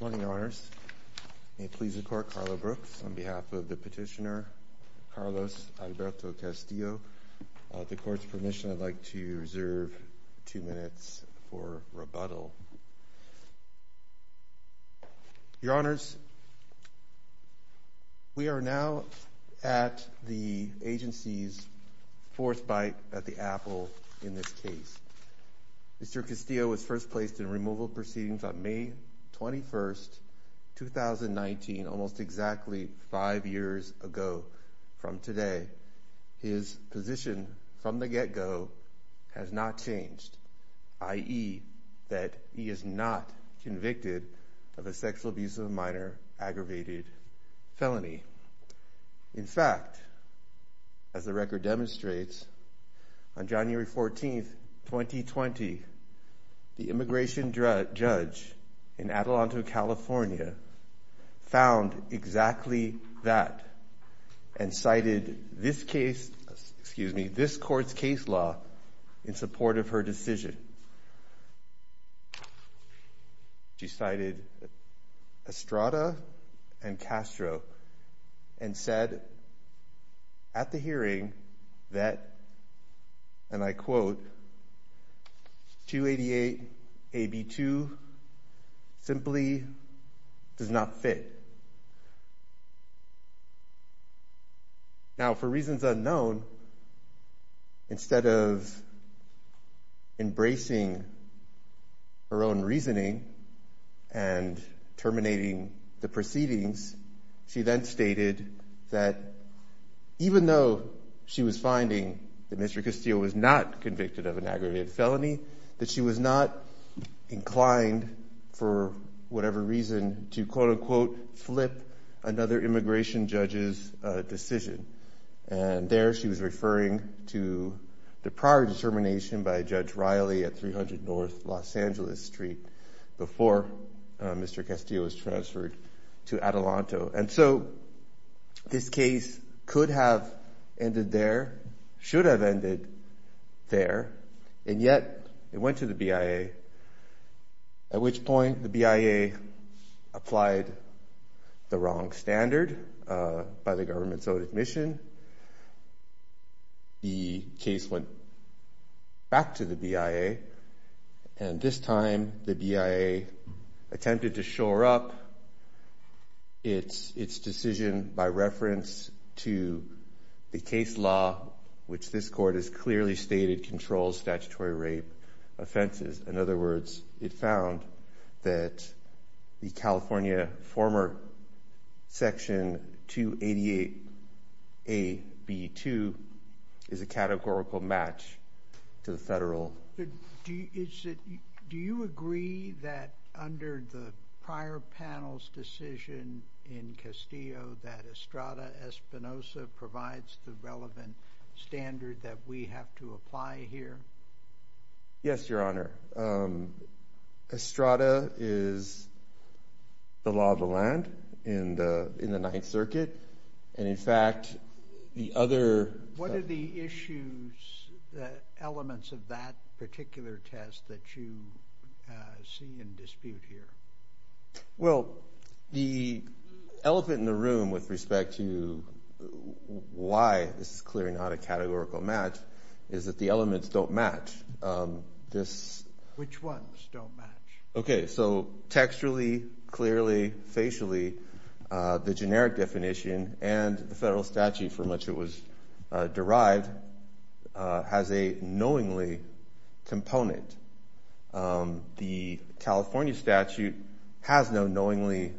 Good morning, Your Honors. May it please the Court, Carlo Brooks, on behalf of the petitioner Carlos Alberto Castillo. At the Court's permission, I'd like to reserve two minutes for rebuttal. Your Honors, we are now at the agency's fourth bite at the apple in this case. Mr. Castillo was first placed in removal proceedings on May 21st, 2019, almost exactly five years ago from today. His position from the get-go has not changed, i.e., that he is not convicted of a sexual abuse of a minor aggravated felony. In fact, as the record demonstrates, on January 14th, 2020, the immigration judge in Adelanto, California, found exactly that and cited this Court's case law in support of her decision. She cited Estrada and Castro and said at the hearing that, and I quote, Now, for reasons unknown, instead of embracing her own reasoning and terminating the proceedings, she then stated that even though she was finding that Mr. Castillo was not convicted of a minor aggravated felony, that she was not inclined, for whatever reason, to quote-unquote flip another immigration judge's decision. And there she was referring to the prior determination by Judge Riley at 300 North Los Angeles Street before Mr. Castillo was transferred to Adelanto. And so this case could have ended there, should have ended there, and yet it went to the BIA, at which point the BIA applied the wrong standard by the government's own admission. The case went back to the BIA, and this time the BIA attempted to shore up its decision by reference to the case law, which this Court has clearly stated controls statutory rape offenses. In other words, it found that the California former Section 288AB2 is a categorical match to the federal. Do you agree that under the prior panel's decision in Castillo that Estrada Espinosa provides the relevant standard that we have to apply here? Yes, Your Honor. Estrada is the law of the land in the Ninth Circuit, and in fact the other… What are the issues, the elements of that particular test that you see in dispute here? Well, the elephant in the room with respect to why this is clearly not a categorical match is that the elements don't match. Which ones don't match? Okay, so textually, clearly, facially, the generic definition and the federal statute for which it was derived has a knowingly component. The California statute has no knowingly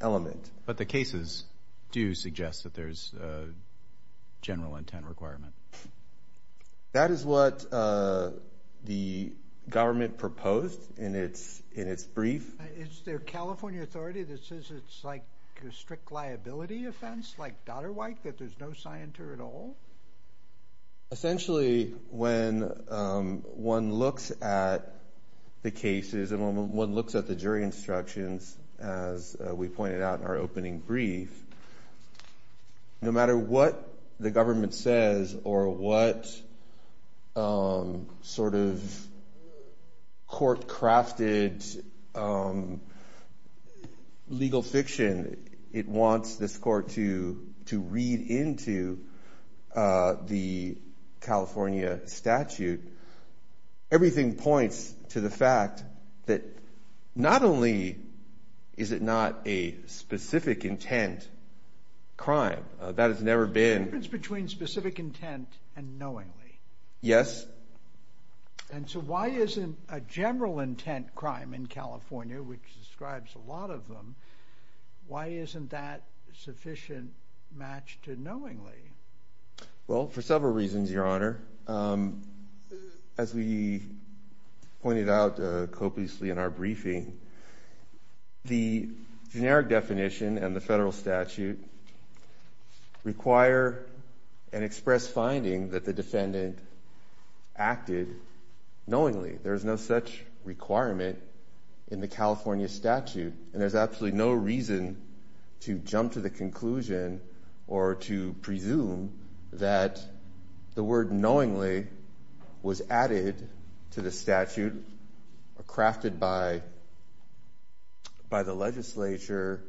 element. But the cases do suggest that there's a general intent requirement. That is what the government proposed in its brief. Is there a California authority that says it's like a strict liability offense, like Dodderwhite, that there's no scienter at all? Essentially, when one looks at the cases and one looks at the jury instructions, as we pointed out in our opening brief, no matter what the government says or what sort of court-crafted legal fiction it wants this court to read into the California statute, everything points to the fact that not only is it not a specific intent crime, that it's never been… There's a difference between specific intent and knowingly. Yes. And so why isn't a general intent crime in California, which describes a lot of them, why isn't that sufficient match to knowingly? Well, for several reasons, Your Honor. As we pointed out copiously in our briefing, the generic definition and the federal statute require an express finding that the defendant acted knowingly. There's no such requirement in the California statute. And there's absolutely no reason to jump to the conclusion or to presume that the word knowingly was added to the statute or crafted by the legislature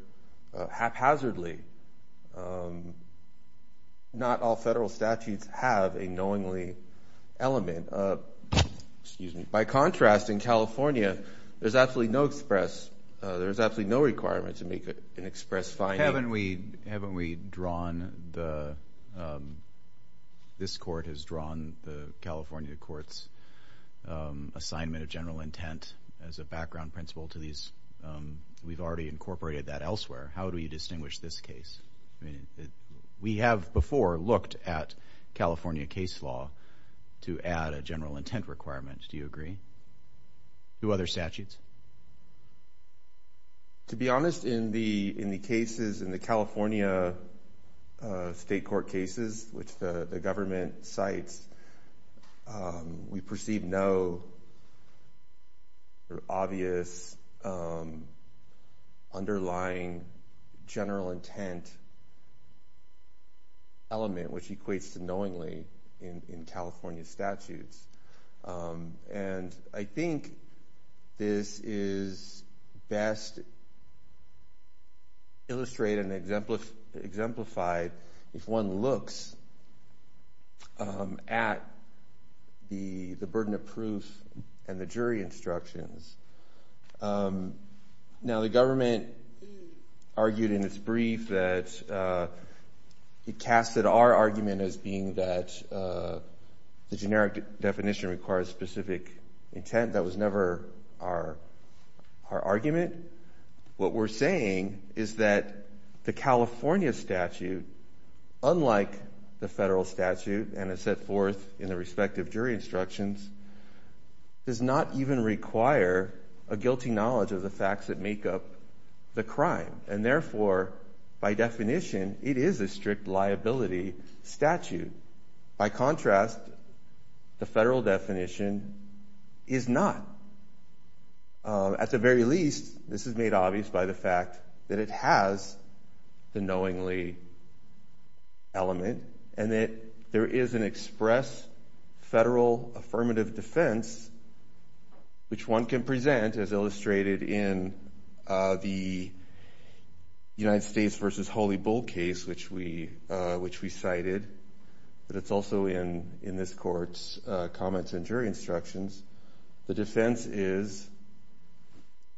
haphazardly. Not all federal statutes have a knowingly element. Excuse me. By contrast, in California, there's absolutely no express – there's absolutely no requirement to make an express finding. Haven't we drawn the – this court has drawn the California court's assignment of general intent as a background principle to these? We've already incorporated that elsewhere. How do we distinguish this case? We have before looked at California case law to add a general intent requirement. Do you agree? Do other statutes? To be honest, in the cases – in the California state court cases, which the government cites, we perceive no obvious underlying general intent element, which equates to knowingly in California statutes. And I think this is best illustrated and exemplified if one looks at the burden of proof and the jury instructions. Now, the government argued in its brief that – it casted our argument as being that the generic definition requires specific intent. That was never our argument. What we're saying is that the California statute, unlike the federal statute and is set forth in the respective jury instructions, does not even require a guilty knowledge of the facts that make up the crime. And therefore, by definition, it is a strict liability statute. By contrast, the federal definition is not. At the very least, this is made obvious by the fact that it has the knowingly element and that there is an express federal affirmative defense, which one can present, as illustrated in the United States v. Holy Bull case, which we cited. But it's also in this court's comments and jury instructions. The defense is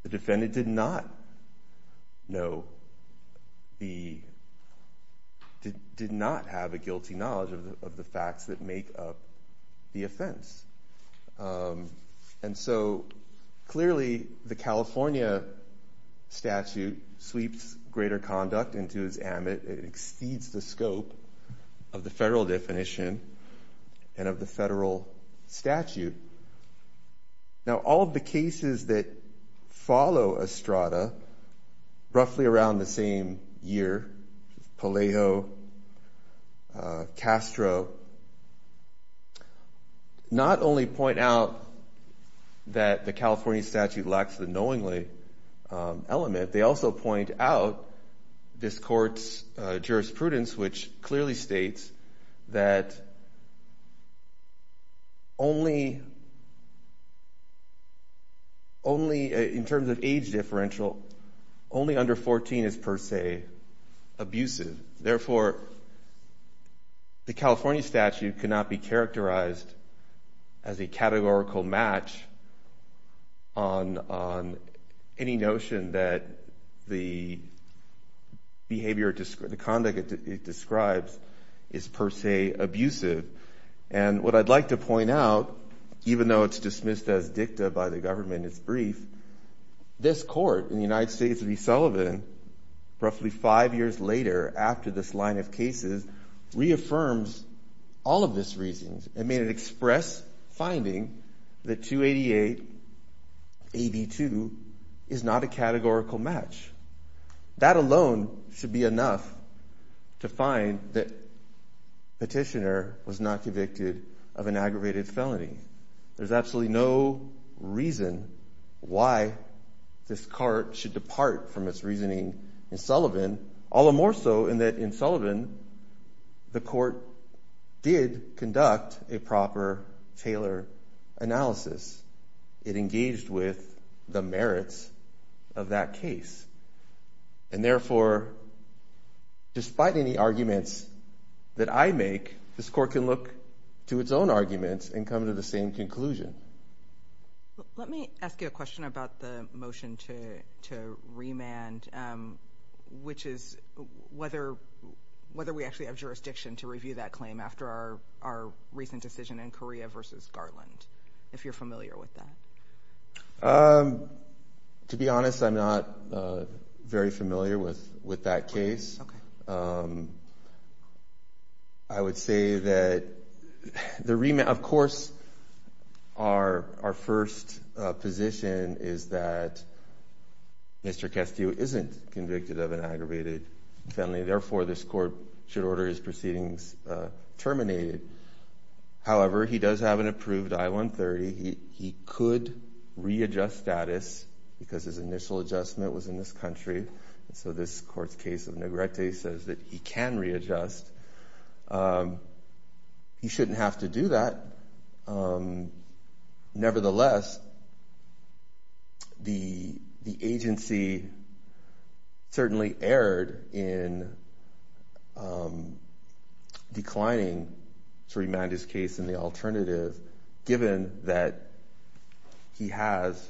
the defendant did not know the – did not have a guilty knowledge of the facts that make up the offense. And so, clearly, the California statute sweeps greater conduct into its ammendment. It exceeds the scope of the federal definition and of the federal statute. Now, all of the cases that follow Estrada, roughly around the same year, Palaio, Castro, not only point out that the California statute lacks the knowingly element. But they also point out this court's jurisprudence, which clearly states that only – only in terms of age differential, only under 14 is per se abusive. Therefore, the California statute cannot be characterized as a categorical match on any notion that the behavior – the conduct it describes is per se abusive. And what I'd like to point out, even though it's dismissed as dicta by the government, it's brief, this court in the United States v. Sullivan, roughly five years later after this line of cases, reaffirms all of this reasoning. It made it express finding that 288-82 is not a categorical match. That alone should be enough to find that Petitioner was not convicted of an aggravated felony. There's absolutely no reason why this court should depart from its reasoning in Sullivan, all the more so in that in Sullivan, the court did conduct a proper, tailored analysis. It engaged with the merits of that case. And therefore, despite any arguments that I make, this court can look to its own arguments and come to the same conclusion. Let me ask you a question about the motion to remand, which is whether we actually have jurisdiction to review that claim after our recent decision in Korea v. Garland, if you're familiar with that. To be honest, I'm not very familiar with that case. Okay. I would say that the remand, of course, our first position is that Mr. Castillo isn't convicted of an aggravated felony. Therefore, this court should order his proceedings terminated. However, he does have an approved I-130. He could readjust status because his initial adjustment was in this country. So this court's case of Negrete says that he can readjust. He shouldn't have to do that. Nevertheless, the agency certainly erred in declining to remand his case in the alternative, given that he has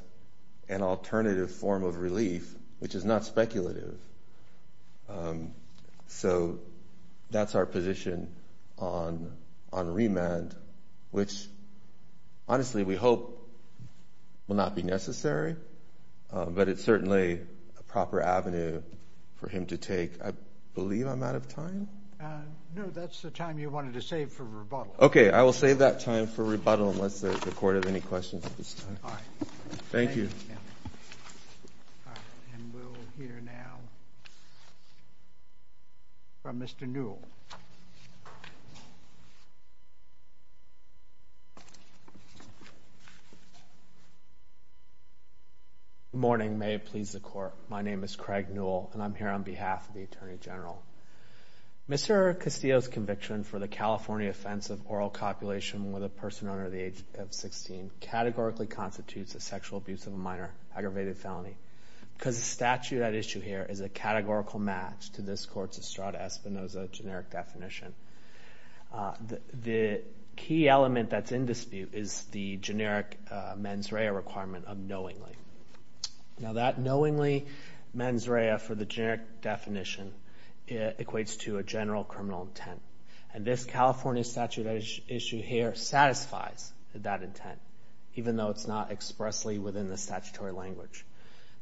an alternative form of relief, which is not speculative. So that's our position on remand, which, honestly, we hope will not be necessary, but it's certainly a proper avenue for him to take. I believe I'm out of time. No, that's the time you wanted to save for rebuttal. Okay. I will save that time for rebuttal unless the court has any questions at this time. All right. Thank you. All right. And we'll hear now from Mr. Newell. Good morning. May it please the Court. My name is Craig Newell, and I'm here on behalf of the Attorney General. Mr. Castillo's conviction for the California offense of oral copulation with a person under the age of 16 categorically constitutes a sexual abuse of a minor aggravated felony, because the statute at issue here is a categorical match to this court's Estrada-Espinoza generic definition. The key element that's in dispute is the generic mens rea requirement of knowingly. Now, that knowingly mens rea for the generic definition equates to a general criminal intent, and this California statute at issue here satisfies that intent, even though it's not expressly within the statutory language.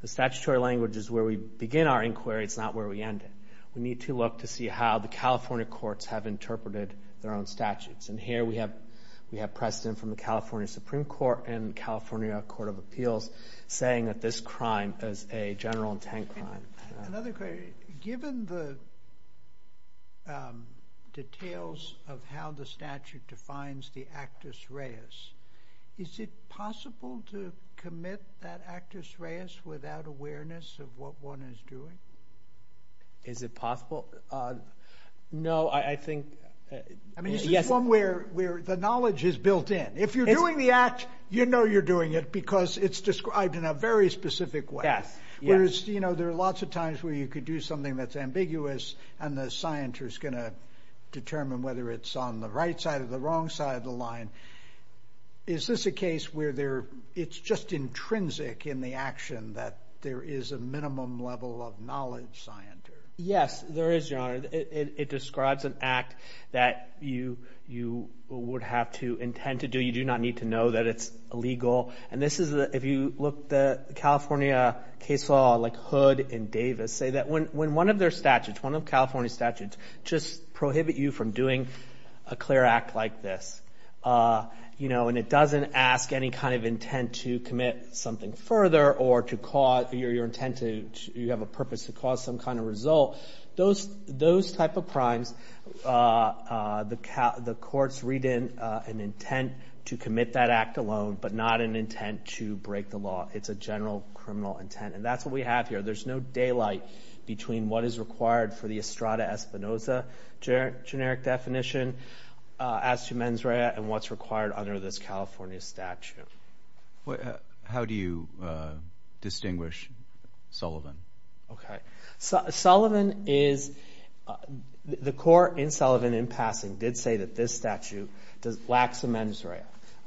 The statutory language is where we begin our inquiry. It's not where we end it. We need to look to see how the California courts have interpreted their own statutes, and here we have precedent from the California Supreme Court and California Court of Appeals saying that this crime is a general intent crime. Another question. Given the details of how the statute defines the actus reus, is it possible to commit that actus reus without awareness of what one is doing? Is it possible? No, I think – I mean, this is one where the knowledge is built in. If you're doing the act, you know you're doing it because it's described in a very specific way. Whereas, you know, there are lots of times where you could do something that's ambiguous and the scienter is going to determine whether it's on the right side or the wrong side of the line. Is this a case where it's just intrinsic in the action that there is a minimum level of knowledge, scienter? Yes, there is, Your Honor. It describes an act that you would have to intend to do. You do not need to know that it's illegal. And this is – if you look at the California case law, like Hood and Davis, say that when one of their statutes, one of California's statutes, just prohibit you from doing a clear act like this, you know, and it doesn't ask any kind of intent to commit something further or to cause – your intent to – you have a purpose to cause some kind of result. Those type of crimes, the courts read in an intent to commit that act alone but not an intent to break the law. It's a general criminal intent. And that's what we have here. There's no daylight between what is required for the Estrada-Espinosa generic definition as to mens rea and what's required under this California statute. How do you distinguish Sullivan? Okay. Sullivan is – the court in Sullivan, in passing, did say that this statute lacks a mens rea.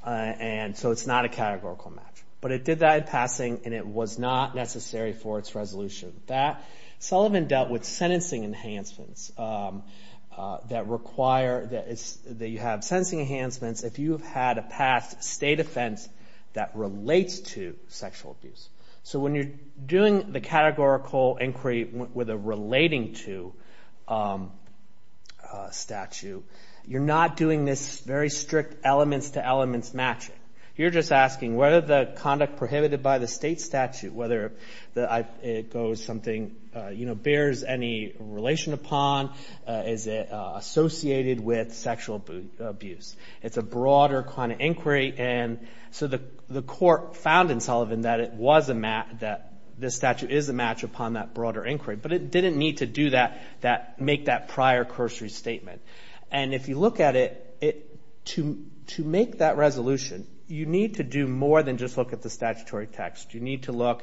And so it's not a categorical match. But it did that in passing, and it was not necessary for its resolution. That – Sullivan dealt with sentencing enhancements that require – that you have sentencing enhancements if you have had a past state offense that relates to sexual abuse. So when you're doing the categorical inquiry with a relating to statute, you're not doing this very strict elements-to-elements matching. You're just asking whether the conduct prohibited by the state statute, whether it goes something – bears any relation upon, is it associated with sexual abuse. It's a broader kind of inquiry. And so the court found in Sullivan that it was a – that this statute is a match upon that broader inquiry. But it didn't need to do that – make that prior cursory statement. And if you look at it, to make that resolution, you need to do more than just look at the statutory text. You need to look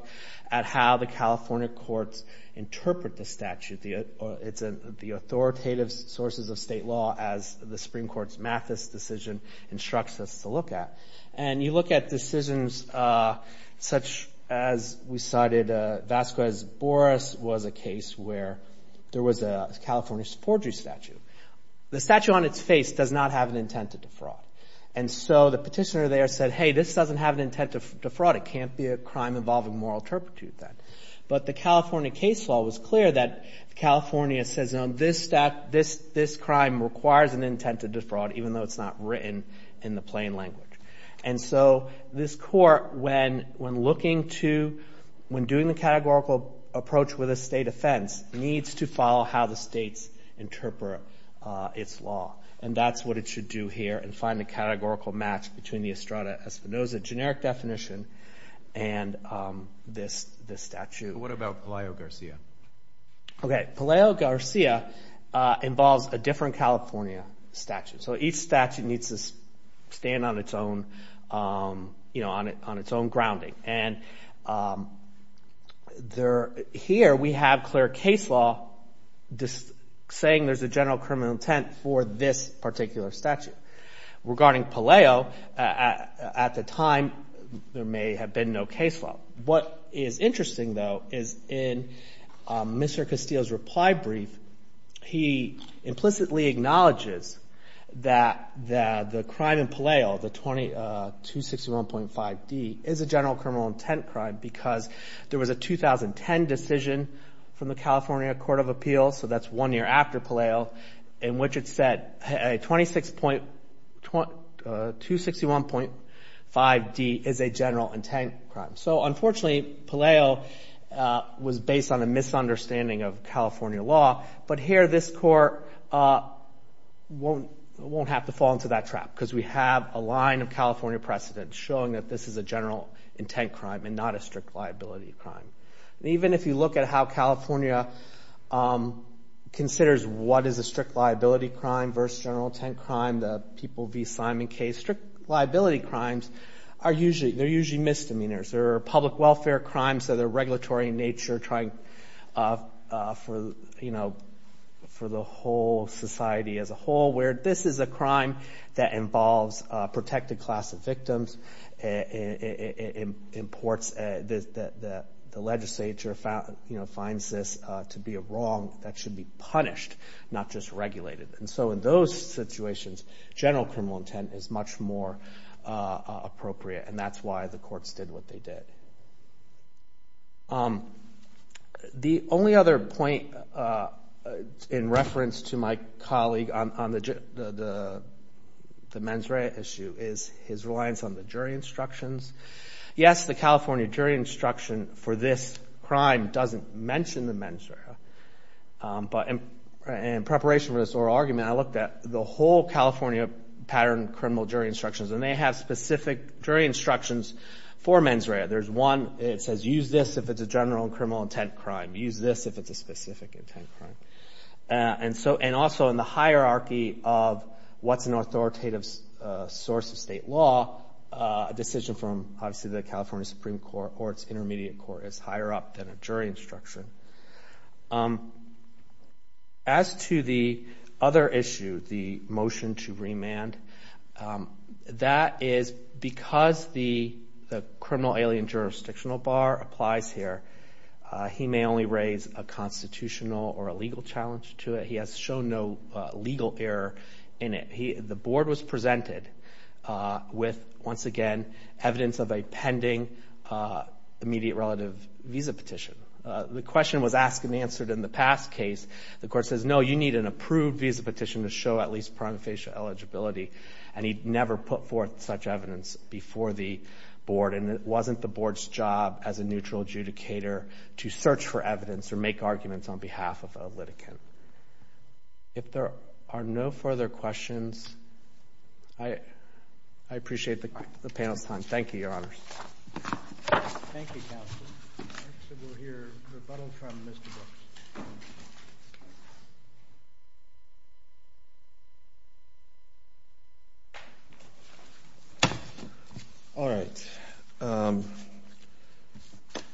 at how the California courts interpret the statute. It's the authoritative sources of state law as the Supreme Court's Mathis decision instructs us to look at. And you look at decisions such as we cited Vasquez-Borres was a case where there was a California forgery statute. The statute on its face does not have an intent to defraud. And so the petitioner there said, hey, this doesn't have an intent to defraud. It can't be a crime involving moral turpitude then. But the California case law was clear that California says, you know, this crime requires an intent to defraud, even though it's not written in the plain language. And so this court, when looking to – when doing the categorical approach with a state offense, needs to follow how the states interpret its law. And that's what it should do here and find the categorical match between the Estrada-Espinoza generic definition and this statute. What about Palaio Garcia? Okay, Palaio Garcia involves a different California statute. So each statute needs to stand on its own, you know, on its own grounding. And here we have clear case law saying there's a general criminal intent for this particular statute. Regarding Palaio, at the time, there may have been no case law. What is interesting, though, is in Mr. Castillo's reply brief, he implicitly acknowledges that the crime in Palaio, the 261.5d, is a general criminal intent crime because there was a 2010 decision from the California Court of Appeals, so that's one year after Palaio, in which it said 261.5d is a general intent crime. So unfortunately, Palaio was based on a misunderstanding of California law, but here this Court won't have to fall into that trap because we have a line of California precedent showing that this is a general intent crime and not a strict liability crime. Even if you look at how California considers what is a strict liability crime versus general intent crime, the people v. Simon case, strict liability crimes, they're usually misdemeanors. There are public welfare crimes that are regulatory in nature, trying for the whole society as a whole, where this is a crime that involves a protected class of victims, imports that the legislature finds this to be wrong, that should be punished, not just regulated. And so in those situations, general criminal intent is much more appropriate, and that's why the courts did what they did. The only other point in reference to my colleague on the mens rea issue is his reliance on the jury instructions. Yes, the California jury instruction for this crime doesn't mention the mens rea, but in preparation for this oral argument, I looked at the whole California pattern of criminal jury instructions, and they have specific jury instructions for mens rea. There's one that says, use this if it's a general and criminal intent crime. Use this if it's a specific intent crime. And also in the hierarchy of what's an authoritative source of state law, a decision from obviously the California Supreme Court or its intermediate court is higher up than a jury instruction. As to the other issue, the motion to remand, that is because the criminal alien jurisdictional bar applies here, he may only raise a constitutional or a legal challenge to it. He has shown no legal error in it. The board was presented with, once again, evidence of a pending immediate relative visa petition. The question was asked and answered in the past case. The court says, no, you need an approved visa petition to show at least prima facie eligibility, and he never put forth such evidence before the board, and it wasn't the board's job as a neutral adjudicator to search for evidence or make arguments on behalf of a litigant. If there are no further questions, I appreciate the panel's time. Thank you, Your Honors. Thank you, counsel. Next we'll hear rebuttal from Mr. Brooks. All right.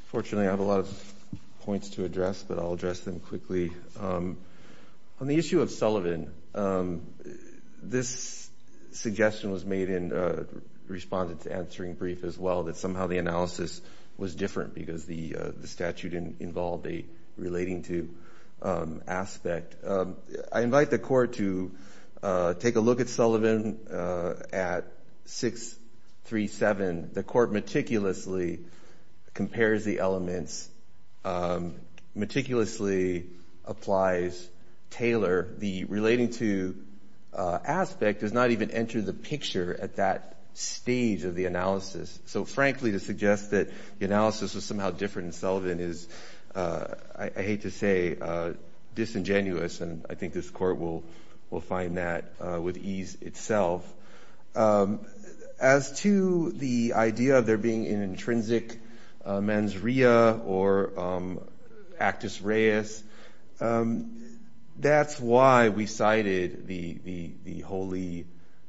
Fortunately, I have a lot of points to address, but I'll address them quickly. On the issue of Sullivan, this suggestion was made in response to answering brief as well, that somehow the analysis was different because the statute involved a relating to aspect. I invite the court to take a look at Sullivan at 637. The court meticulously compares the elements, meticulously applies Taylor. The relating to aspect does not even enter the picture at that stage of the analysis. So, frankly, to suggest that the analysis was somehow different in Sullivan is, I hate to say, disingenuous, and I think this court will find that with ease itself. As to the idea of there being an intrinsic mens rea or actus reus, that's why we cited the Holy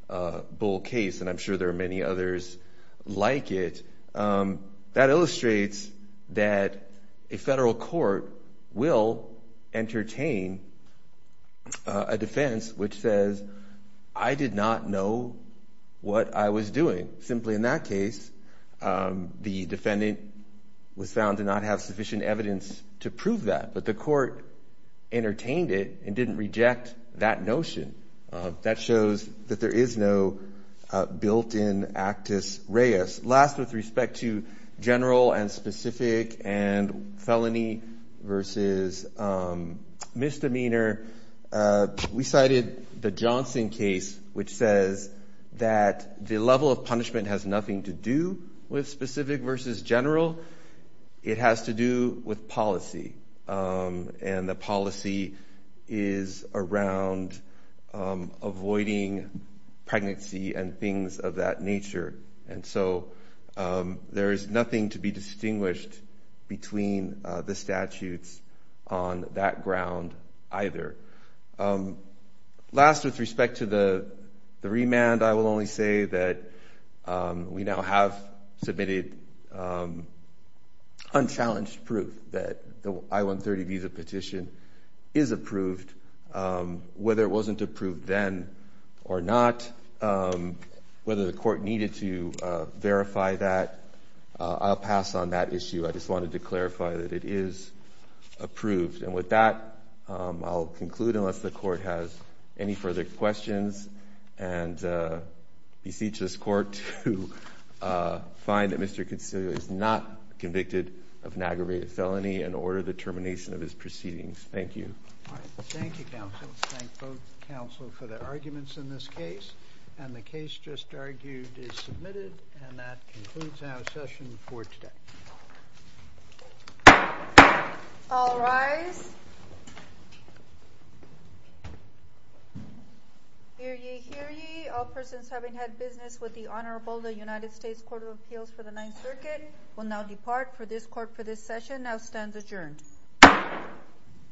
Bull case, and I'm sure there are many others like it. That illustrates that a federal court will entertain a defense which says, I did not know what I was doing. Simply in that case, the defendant was found to not have sufficient evidence to prove that, but the court entertained it and didn't reject that notion. That shows that there is no built-in actus reus. Last, with respect to general and specific and felony versus misdemeanor, we cited the Johnson case, which says that the level of punishment has nothing to do with specific versus general. It has to do with policy, and the policy is around avoiding pregnancy and things of that nature. And so there is nothing to be distinguished between the statutes on that ground either. Last, with respect to the remand, I will only say that we now have submitted unchallenged proof that the I-130 visa petition is approved. Whether it wasn't approved then or not, whether the court needed to verify that, I'll pass on that issue. I just wanted to clarify that it is approved. And with that, I'll conclude, unless the Court has any further questions, and beseech this Court to find that Mr. Consiglio is not convicted of an aggravated felony and order the termination of his proceedings. Thank you. Thank you, counsel. Thank both counsel for their arguments in this case. And the case just argued is submitted, and that concludes our session for today. All rise. Hear ye, hear ye. All persons having had business with the Honorable United States Court of Appeals for the Ninth Circuit will now depart for this session. Now stands adjourned.